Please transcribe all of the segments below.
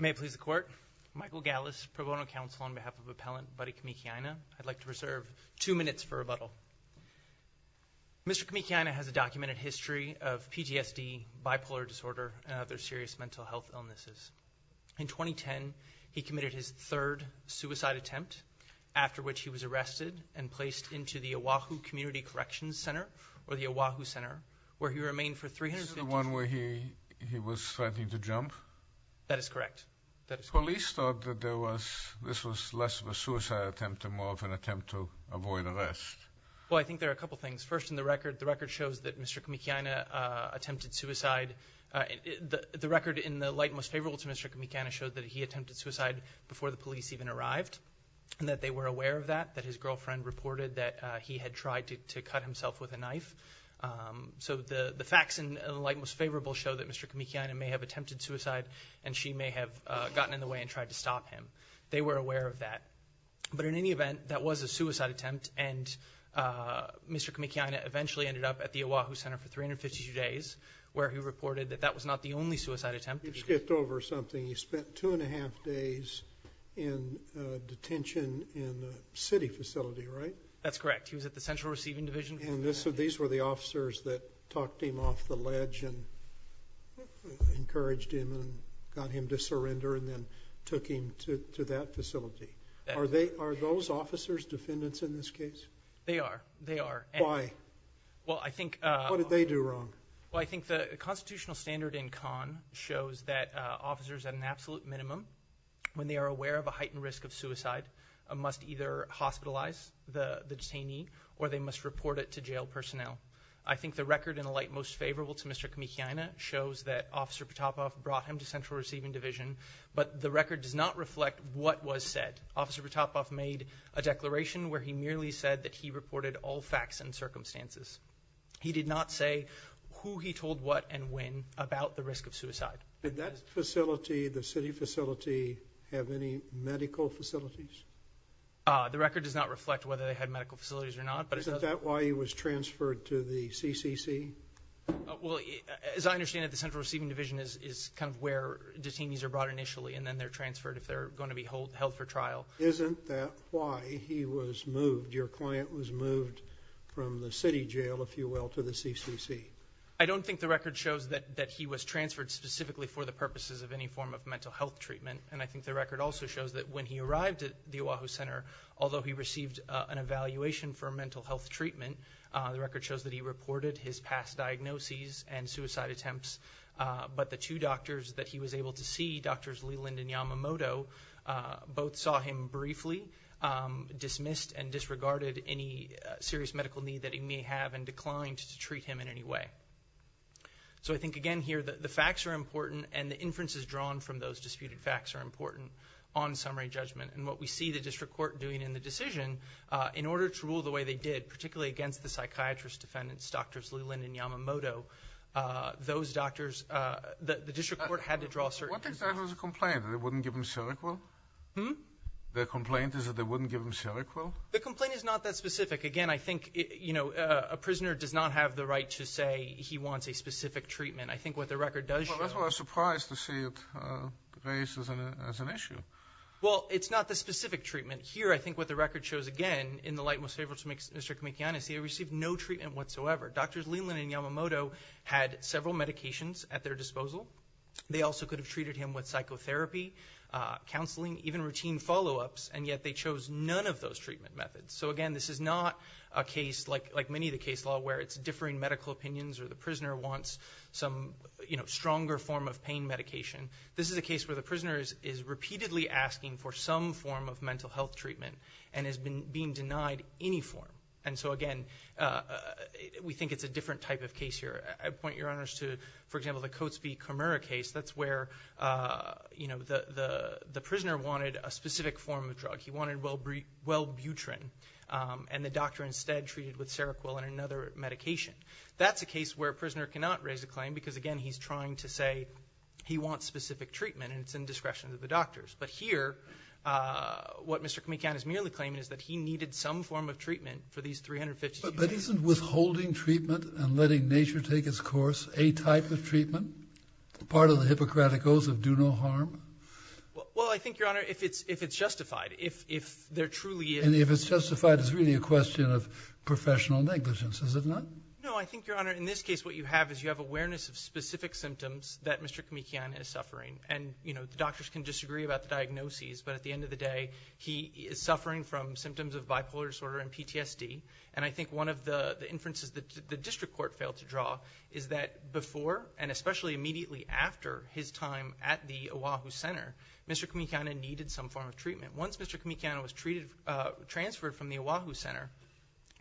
May it please the Court, Michael Gallis, Pro Bono Counsel on behalf of Appellant Buddy Kamakeeaina. I'd like to reserve two minutes for rebuttal. Mr. Kamakeeaina has a documented history of PTSD, bipolar disorder, and other serious mental health illnesses. In 2010, he committed his third suicide attempt, after which he was arrested and placed into the Oahu Community Corrections Center, or the Oahu Center, where he remained for 350 days. Is this the one where he was threatening to jump? That is correct. Police thought that this was less of a suicide attempt and more of an attempt to avoid arrest. Well, I think there are a couple things. First, the record shows that Mr. Kamakeeaina attempted suicide. The record in the light most favorable to Mr. Kamakeeaina shows that he attempted suicide before the police even arrived, and that they were aware of that, that his girlfriend reported that he had tried to cut himself with a knife. So the facts in the light most favorable show that Mr. Kamakeeaina may have attempted suicide, and she may have gotten in the way and tried to stop him. They were aware of that. But in any event, that was a suicide attempt, and Mr. Kamakeeaina eventually ended up at the Oahu Center for 352 days, where he reported that that was not the only suicide attempt. You skipped over something. He spent two and a half days in detention in a city facility, right? That's correct. He was at the Central Receiving Division. And these were the officers that talked him off the ledge and encouraged him and got him to surrender and then took him to that facility. Are those officers defendants in this case? They are. They are. Why? What did they do wrong? Well, I think the constitutional standard in CON shows that officers at an absolute minimum, when they are aware of a heightened risk of suicide, must either hospitalize the detainee or they must report it to jail personnel. I think the record in the light most favorable to Mr. Kamakeeaina shows that Officer Potapoff brought him to Central Receiving Division, but the record does not reflect what was said. Officer Potapoff made a declaration where he merely said that he reported all facts and circumstances. He did not say who he told what and when about the risk of suicide. Did that facility, the city facility, have any medical facilities? The record does not reflect whether they had medical facilities or not. Isn't that why he was transferred to the CCC? Well, as I understand it, the Central Receiving Division is kind of where detainees are brought initially and then they're transferred if they're going to be held for trial. Isn't that why he was moved, your client was moved from the city jail, if you will, to the CCC? I don't think the record shows that he was transferred specifically for the purposes of any form of mental health treatment. And I think the record also shows that when he arrived at the Oahu Center, although he received an evaluation for mental health treatment, the record shows that he reported his past diagnoses and suicide attempts, but the two doctors that he was able to see, Drs. Leland and Yamamoto, both saw him briefly, dismissed and disregarded any serious medical need that he may have and declined to treat him in any way. So I think, again, here the facts are important and the inferences drawn from those disputed facts are important on summary judgment. And what we see the district court doing in the decision, in order to rule the way they did, particularly against the psychiatrist defendants, Drs. Leland and Yamamoto, those doctors, the district court had to draw certain conclusions. What exactly is the complaint? That they wouldn't give him Seroquel? The complaint is that they wouldn't give him Seroquel? The complaint is not that specific. Again, I think a prisoner does not have the right to say he wants a specific treatment. I think what the record does show— Well, that's why I was surprised to see it raised as an issue. Well, it's not the specific treatment. Here, I think what the record shows, again, in the light most favorable to Mr. Kamikianis, he received no treatment whatsoever. Drs. Leland and Yamamoto had several medications at their disposal. They also could have treated him with psychotherapy, counseling, even routine follow-ups, and yet they chose none of those treatment methods. So, again, this is not a case, like many of the case law, where it's differing medical opinions or the prisoner wants some stronger form of pain medication. This is a case where the prisoner is repeatedly asking for some form of mental health treatment and is being denied any form. And so, again, we think it's a different type of case here. I point your honors to, for example, the Coates v. Comura case. That's where the prisoner wanted a specific form of drug. He wanted Welbutrin, and the doctor instead treated with Seroquel and another medication. That's a case where a prisoner cannot raise a claim because, again, he's trying to say he wants specific treatment, and it's in discretion of the doctors. But here, what Mr. Kamikianis merely claimed is that he needed some form of treatment for these 352 days. But isn't withholding treatment and letting nature take its course a type of treatment, part of the Hippocratic oath of do no harm? Well, I think, Your Honor, if it's justified, if there truly is... And if it's justified, it's really a question of professional negligence, is it not? No, I think, Your Honor, in this case what you have is you have awareness of specific symptoms that Mr. Kamikianis is suffering. And, you know, the doctors can disagree about the diagnoses, but at the end of the day he is suffering from symptoms of bipolar disorder and PTSD. And I think one of the inferences that the district court failed to draw is that before, and especially immediately after his time at the Oahu Center, Mr. Kamikianis needed some form of treatment. Once Mr. Kamikianis was transferred from the Oahu Center,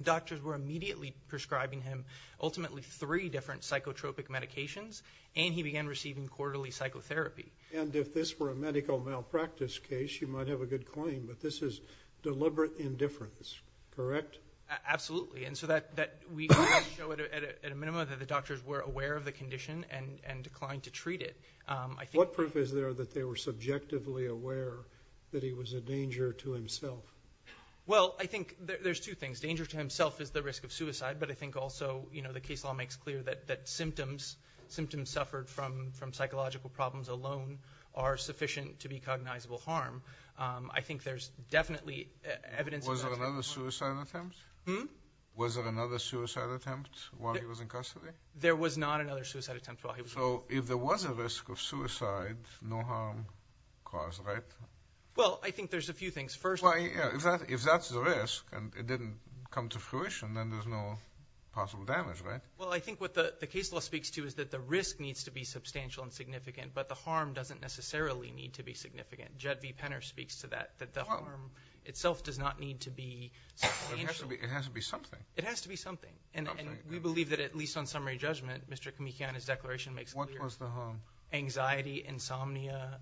doctors were immediately prescribing him ultimately three different psychotropic medications, and he began receiving quarterly psychotherapy. And if this were a medical malpractice case, you might have a good claim, but this is deliberate indifference, correct? Absolutely. And so we can't show at a minimum that the doctors were aware of the condition and declined to treat it. What proof is there that they were subjectively aware that he was a danger to himself? Well, I think there's two things. Danger to himself is the risk of suicide, but I think also, you know, the case law makes clear that symptoms suffered from psychological problems alone are sufficient to be cognizable harm. I think there's definitely evidence of that type of harm. Was there another suicide attempt while he was in custody? There was not another suicide attempt while he was in custody. So if there was a risk of suicide, no harm caused, right? Well, I think there's a few things. First of all, if that's the risk and it didn't come to fruition, then there's no possible damage, right? Well, I think what the case law speaks to is that the risk needs to be substantial and significant, but the harm doesn't necessarily need to be significant. Judd v. Penner speaks to that, that the harm itself does not need to be substantial. It has to be something. It has to be something. And we believe that at least on summary judgment, Mr. Kamikiana's declaration makes clear. What was the harm? Anxiety, insomnia,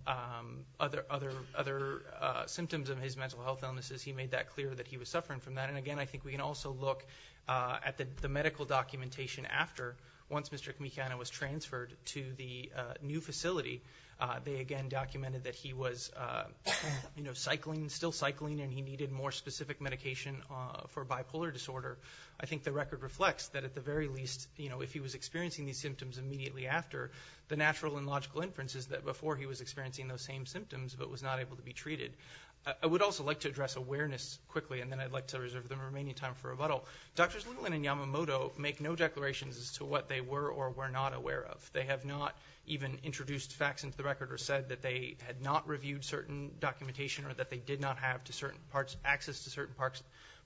other symptoms of his mental health illnesses. He made that clear that he was suffering from that. And, again, I think we can also look at the medical documentation after, once Mr. Kamikiana was transferred to the new facility, they again documented that he was cycling, still cycling, and he needed more specific medication for bipolar disorder. I think the record reflects that at the very least, you know, if he was experiencing these symptoms immediately after, the natural and logical inference is that before he was experiencing those same symptoms but was not able to be treated. I would also like to address awareness quickly, and then I'd like to reserve the remaining time for rebuttal. Drs. Littlen and Yamamoto make no declarations as to what they were or were not aware of. They have not even introduced facts into the record or said that they had not reviewed certain documentation or that they did not have access to certain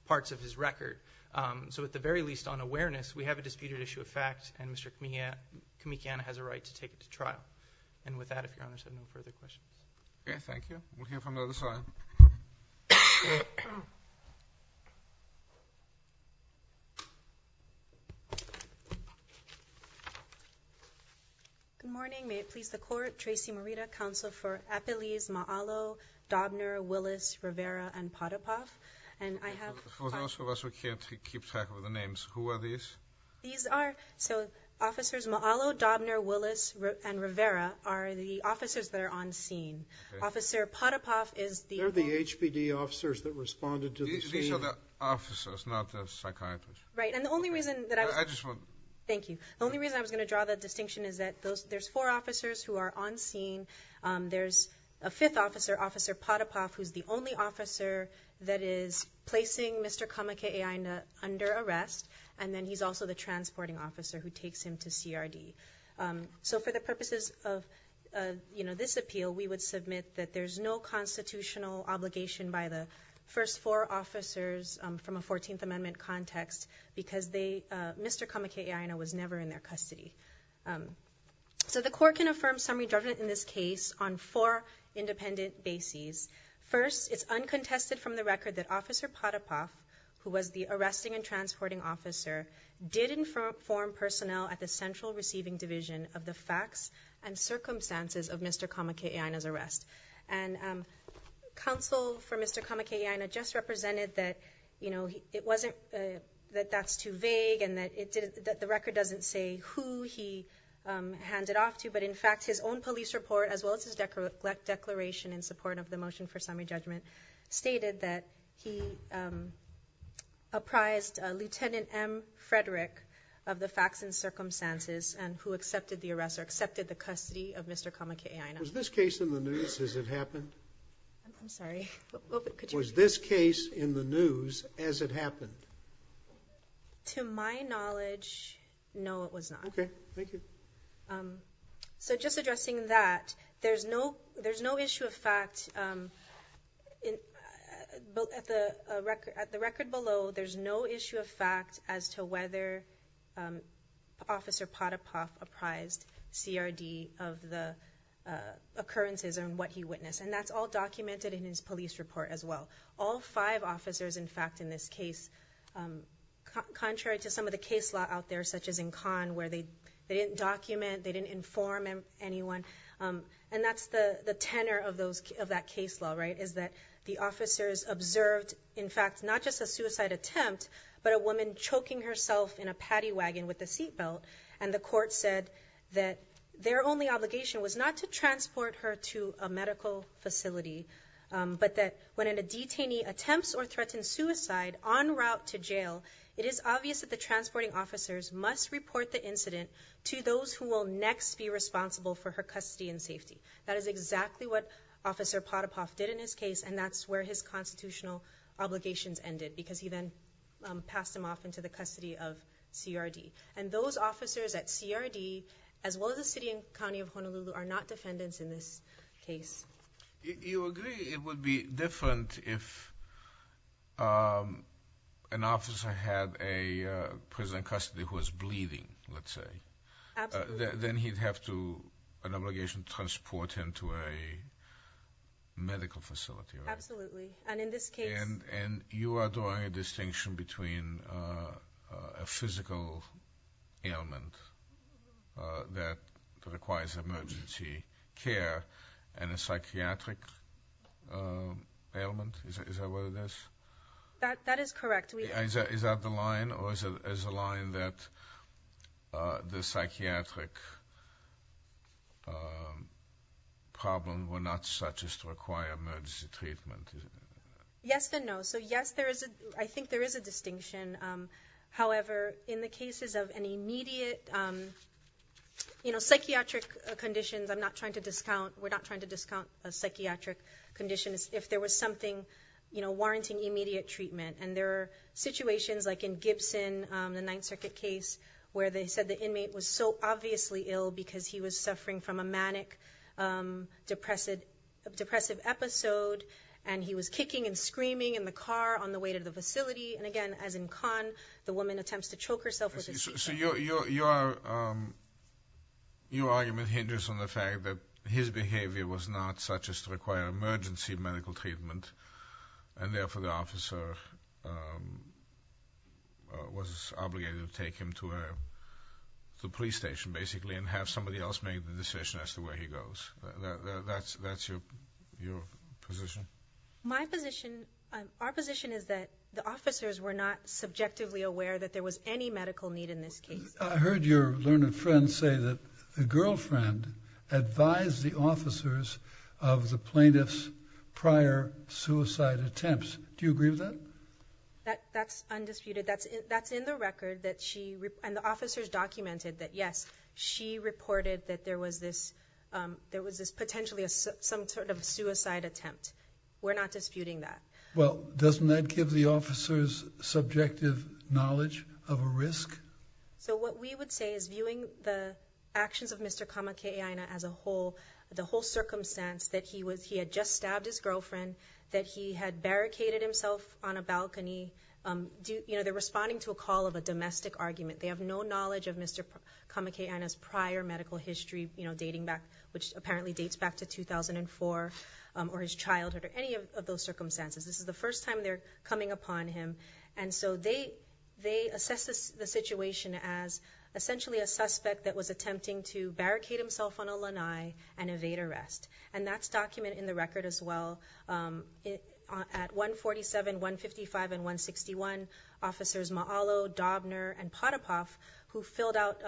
parts of his record. So at the very least, on awareness, we have a disputed issue of facts, and Mr. Kamikiana has a right to take it to trial. And with that, if your honors have no further questions. Okay, thank you. We'll hear from the other side. Good morning. May it please the Court. Tracy Morita, Counsel for Epeliz, Ma'alo, Dobner, Willis, Rivera, and Potapoff. And I have five. For those of us who can't keep track of the names, who are these? These are, so Officers Ma'alo, Dobner, Willis, and Rivera are the officers that are on scene. Officer Potapoff is the... They're the HPD officers that responded to the scene. These are the officers, not the psychiatrists. Right, and the only reason that I was... I just want... Thank you. The only reason I was going to draw the distinction is that there's four officers who are on scene. There's a fifth officer, Officer Potapoff, who's the only officer that is placing Mr. Kamikiana under arrest. And then he's also the transporting officer who takes him to CRD. So for the purposes of, you know, this appeal, we would submit that there's no constitutional obligation by the first four officers from a 14th Amendment context because Mr. Kamikiana was never in their custody. So the Court can affirm summary judgment in this case on four independent bases. First, it's uncontested from the record that Officer Potapoff, who was the arresting and transporting officer, did inform personnel at the Central Receiving Division of the facts and circumstances of Mr. Kamikiana's arrest. And counsel for Mr. Kamikiana just represented that, you know, it wasn't that that's too vague and that the record doesn't say who he handed off to. But in fact, his own police report, as well as his declaration in support of the motion for summary judgment, stated that he apprised Lieutenant M. Frederick of the facts and circumstances and who accepted the arrest or accepted the custody of Mr. Kamikiana. Was this case in the news as it happened? I'm sorry. Was this case in the news as it happened? To my knowledge, no, it was not. Okay. Thank you. So just addressing that, there's no issue of fact at the record below. There's no issue of fact as to whether Officer Potapoff apprised CRD of the occurrences and what he witnessed. And that's all documented in his police report, as well. All five officers, in fact, in this case, contrary to some of the case law out there, such as in Cannes, where they didn't document, they didn't inform anyone, and that's the tenor of that case law, right, is that the officers observed, in fact, not just a suicide attempt, but a woman choking herself in a paddy wagon with a seat belt. And the court said that their only obligation was not to transport her to a medical facility, but that when a detainee attempts or threatens suicide en route to jail, it is obvious that the transporting officers must report the incident to those who will next be responsible for her custody and safety. That is exactly what Officer Potapoff did in his case, and that's where his constitutional obligations ended, because he then passed him off into the custody of CRD. And those officers at CRD, as well as the city and county of Honolulu, are not defendants in this case. You agree it would be different if an officer had a prisoner in custody who was bleeding, let's say? Absolutely. Then he'd have to, an obligation to transport him to a medical facility, right? Absolutely, and in this case. And you are drawing a distinction between a physical ailment that requires emergency care and a psychiatric ailment? Is that what it is? That is correct. Is that the line, or is it a line that the psychiatric problem were not such as to require emergency treatment? Yes and no. So, yes, I think there is a distinction. However, in the cases of an immediate, you know, psychiatric conditions, I'm not trying to discount, we're not trying to discount a psychiatric condition. It's if there was something, you know, warranting immediate treatment. And there are situations, like in Gibson, the Ninth Circuit case, where they said the inmate was so obviously ill because he was suffering from a manic depressive episode, and he was kicking and screaming in the car on the way to the facility. And, again, as in Kahn, the woman attempts to choke herself with a tea cup. So your argument hinders on the fact that his behavior was not such as to require emergency medical treatment, and therefore the officer was obligated to take him to the police station, basically, and have somebody else make the decision as to where he goes. That's your position? My position, our position is that the officers were not subjectively aware that there was any medical need in this case. I heard your learned friend say that the girlfriend advised the officers of the plaintiff's prior suicide attempts. Do you agree with that? That's undisputed. That's in the record that she, and the officers documented that, yes, she reported that there was this potentially some sort of suicide attempt. We're not disputing that. Well, doesn't that give the officers subjective knowledge of a risk? So what we would say is, viewing the actions of Mr. Kamakaena as a whole, the whole circumstance that he had just stabbed his girlfriend, that he had barricaded himself on a balcony, they're responding to a call of a domestic argument. They have no knowledge of Mr. Kamakaena's prior medical history, you know, dating back, which apparently dates back to 2004, or his childhood, or any of those circumstances. This is the first time they're coming upon him. And so they assess the situation as essentially a suspect that was attempting to barricade himself on a lanai and evade arrest. And that's documented in the record as well. At 147, 155, and 161, officers Ma'alo, Dobner, and Potapoff, who filled out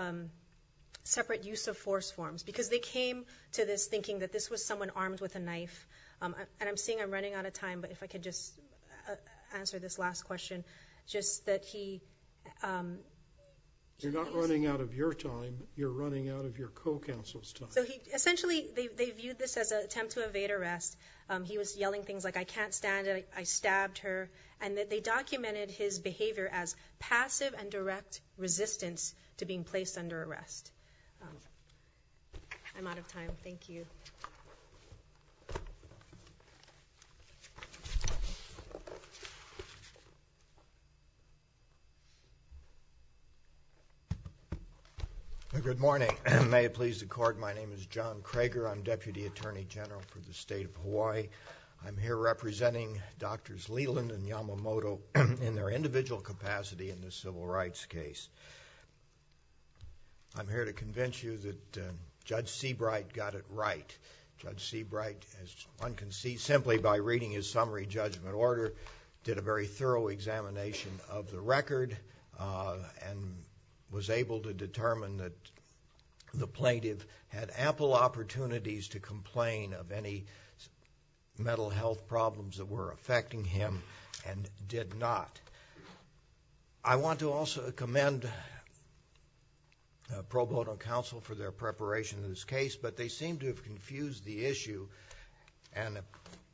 separate use of force forms, because they came to this thinking that this was someone armed with a knife. And I'm seeing I'm running out of time, but if I could just answer this last question, just that he – You're not running out of your time. You're running out of your co-counsel's time. So essentially they viewed this as an attempt to evade arrest. He was yelling things like, I can't stand it. I stabbed her. And they documented his behavior as passive and direct resistance to being placed under arrest. I'm out of time. Thank you. Good morning. May it please the Court, my name is John Krager. I'm Deputy Attorney General for the State of Hawaii. I'm here representing Drs. Leland and Yamamoto in their individual capacity in this civil rights case. I'm here to convince you that Judge Seabright got it right. Judge Seabright, as one can see simply by reading his summary judgment order, did a very thorough examination of the record and was able to determine that the plaintiff had ample opportunities to complain of any mental health problems that were affecting him and did not. I want to also commend Pro Bono Counsel for their preparation of this case, but they seem to have confused the issue and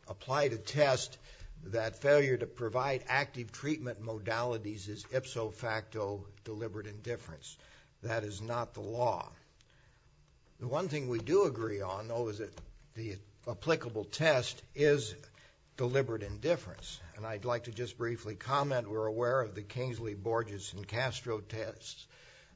applied a test that failure to provide active treatment modalities is ipso facto deliberate indifference. That is not the law. The one thing we do agree on, though, is that the applicable test is deliberate indifference. And I'd like to just briefly comment we're aware of the Kingsley, Borges, and Castro tests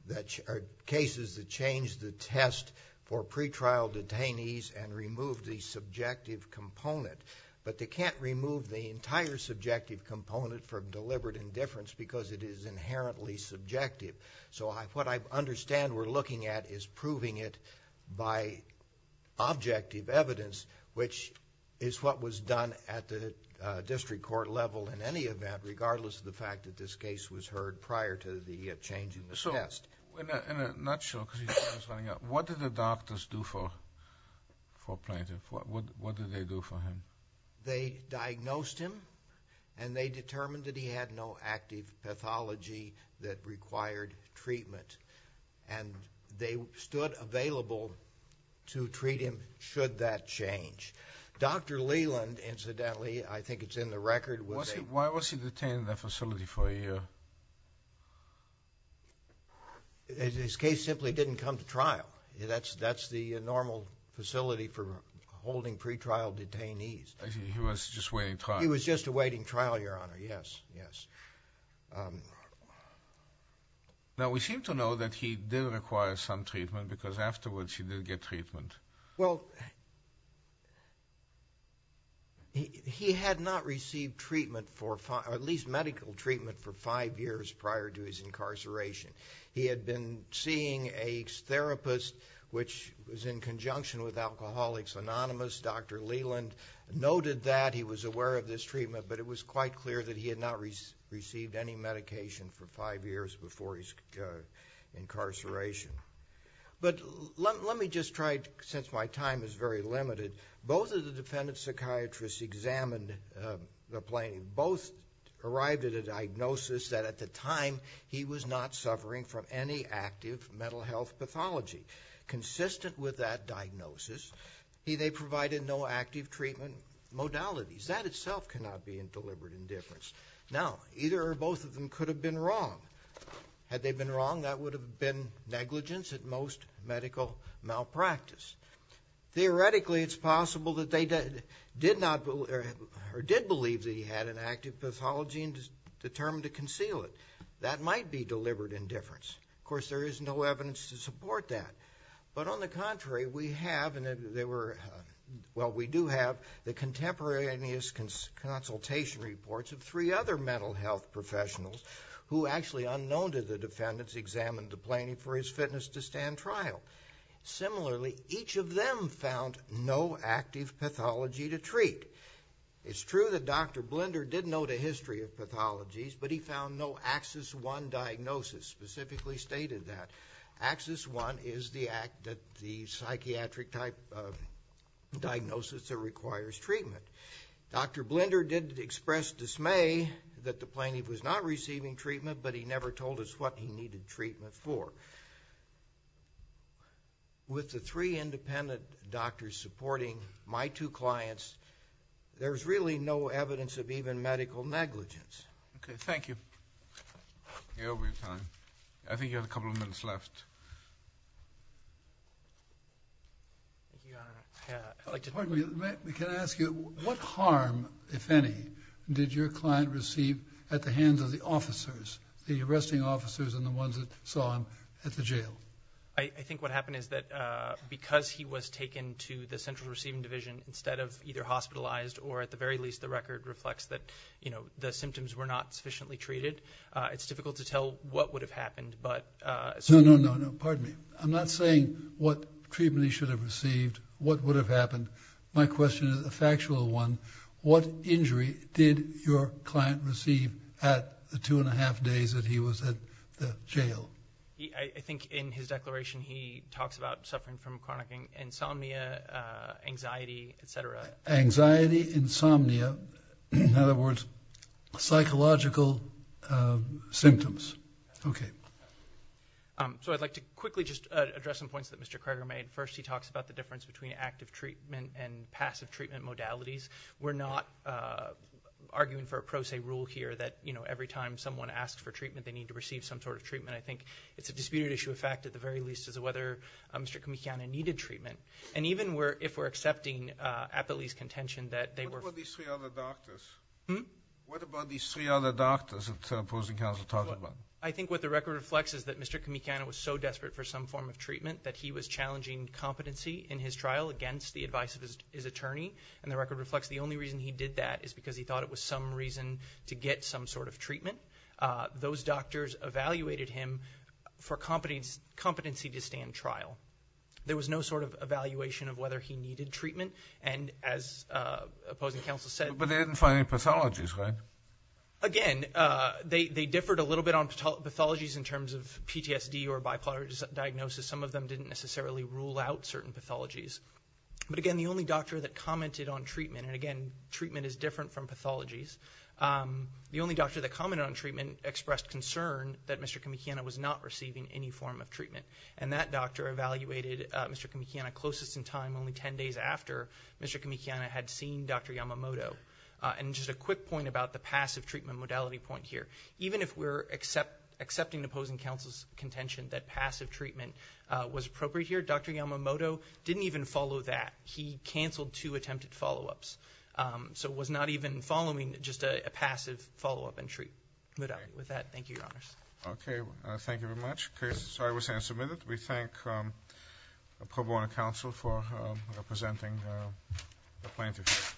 that are cases that change the test for pretrial detainees and remove the subjective component. But they can't remove the entire subjective component from deliberate indifference because it is inherently subjective. So what I understand we're looking at is proving it by objective evidence, which is what was done at the district court level in any event, regardless of the fact that this case was heard prior to the change in the test. I'm not sure because he's running out. What did the doctors do for Plaintiff? What did they do for him? They diagnosed him, and they determined that he had no active pathology that required treatment. And they stood available to treat him should that change. Dr. Leland, incidentally, I think it's in the record. Why was he detained in that facility for a year? His case simply didn't come to trial. That's the normal facility for holding pretrial detainees. He was just awaiting trial. He was just awaiting trial, Your Honor, yes, yes. Now, we seem to know that he did require some treatment because afterwards he did get treatment. Well, he had not received treatment, at least medical treatment, for five years prior to his incarceration. He had been seeing a therapist, which was in conjunction with Alcoholics Anonymous. Dr. Leland noted that he was aware of this treatment, but it was quite clear that he had not received any medication for five years before his incarceration. But let me just try, since my time is very limited. Both of the defendant's psychiatrists examined the plaintiff. Both arrived at a diagnosis that at the time he was not suffering from any active mental health pathology. Consistent with that diagnosis, they provided no active treatment modalities. That itself cannot be in deliberate indifference. Now, either or both of them could have been wrong. Had they been wrong, that would have been negligence, at most, medical malpractice. Theoretically, it's possible that they did believe that he had an active pathology and determined to conceal it. That might be deliberate indifference. Of course, there is no evidence to support that. But on the contrary, we have, and there were, well, we do have, the contemporaneous consultation reports of three other mental health professionals who actually unknown to the defendants examined the plaintiff for his fitness to stand trial. Similarly, each of them found no active pathology to treat. It's true that Dr. Blinder did note a history of pathologies, but he found no Axis I diagnosis specifically stated that. Axis I is the psychiatric type of diagnosis that requires treatment. Dr. Blinder did express dismay that the plaintiff was not receiving treatment, but he never told us what he needed treatment for. With the three independent doctors supporting my two clients, there's really no evidence of even medical negligence. Okay, thank you. You're over your time. I think you have a couple of minutes left. Thank you, Your Honor. Pardon me, can I ask you, what harm, if any, did your client receive at the hands of the officers, the arresting officers and the ones that saw him at the jail? I think what happened is that because he was taken to the central receiving division instead of either hospitalized or at the very least the record reflects that, you know, the symptoms were not sufficiently treated, it's difficult to tell what would have happened. No, no, no, pardon me. I'm not saying what treatment he should have received, what would have happened. My question is a factual one. What injury did your client receive at the two and a half days that he was at the jail? I think in his declaration he talks about suffering from chronic insomnia, anxiety, et cetera. Anxiety, insomnia, in other words, psychological symptoms. Okay. So I'd like to quickly just address some points that Mr. Kroger made. First, he talks about the difference between active treatment and passive treatment modalities. We're not arguing for a pro se rule here that, you know, every time someone asks for treatment they need to receive some sort of treatment. I think it's a disputed issue of fact at the very least as to whether Mr. Kamikiana needed treatment. And even if we're accepting at the least contention that they were- What about these three other doctors? Hmm? I think what the record reflects is that Mr. Kamikiana was so desperate for some form of treatment that he was challenging competency in his trial against the advice of his attorney. And the record reflects the only reason he did that is because he thought it was some reason to get some sort of treatment. Those doctors evaluated him for competency to stand trial. There was no sort of evaluation of whether he needed treatment. And as opposing counsel said- But they didn't find any pathologies, right? Again, they differed a little bit on pathologies in terms of PTSD or bipolar diagnosis. Some of them didn't necessarily rule out certain pathologies. But again, the only doctor that commented on treatment- And again, treatment is different from pathologies. The only doctor that commented on treatment expressed concern that Mr. Kamikiana was not receiving any form of treatment. And that doctor evaluated Mr. Kamikiana closest in time only 10 days after Mr. Kamikiana had seen Dr. Yamamoto. And just a quick point about the passive treatment modality point here. Even if we're accepting opposing counsel's contention that passive treatment was appropriate here, Dr. Yamamoto didn't even follow that. He canceled two attempted follow-ups. So was not even following just a passive follow-up and treat modality. With that, thank you, Your Honors. Okay. Thank you very much. Case is always hand-submitted. We thank Pro Bono Counsel for presenting the plaintiff.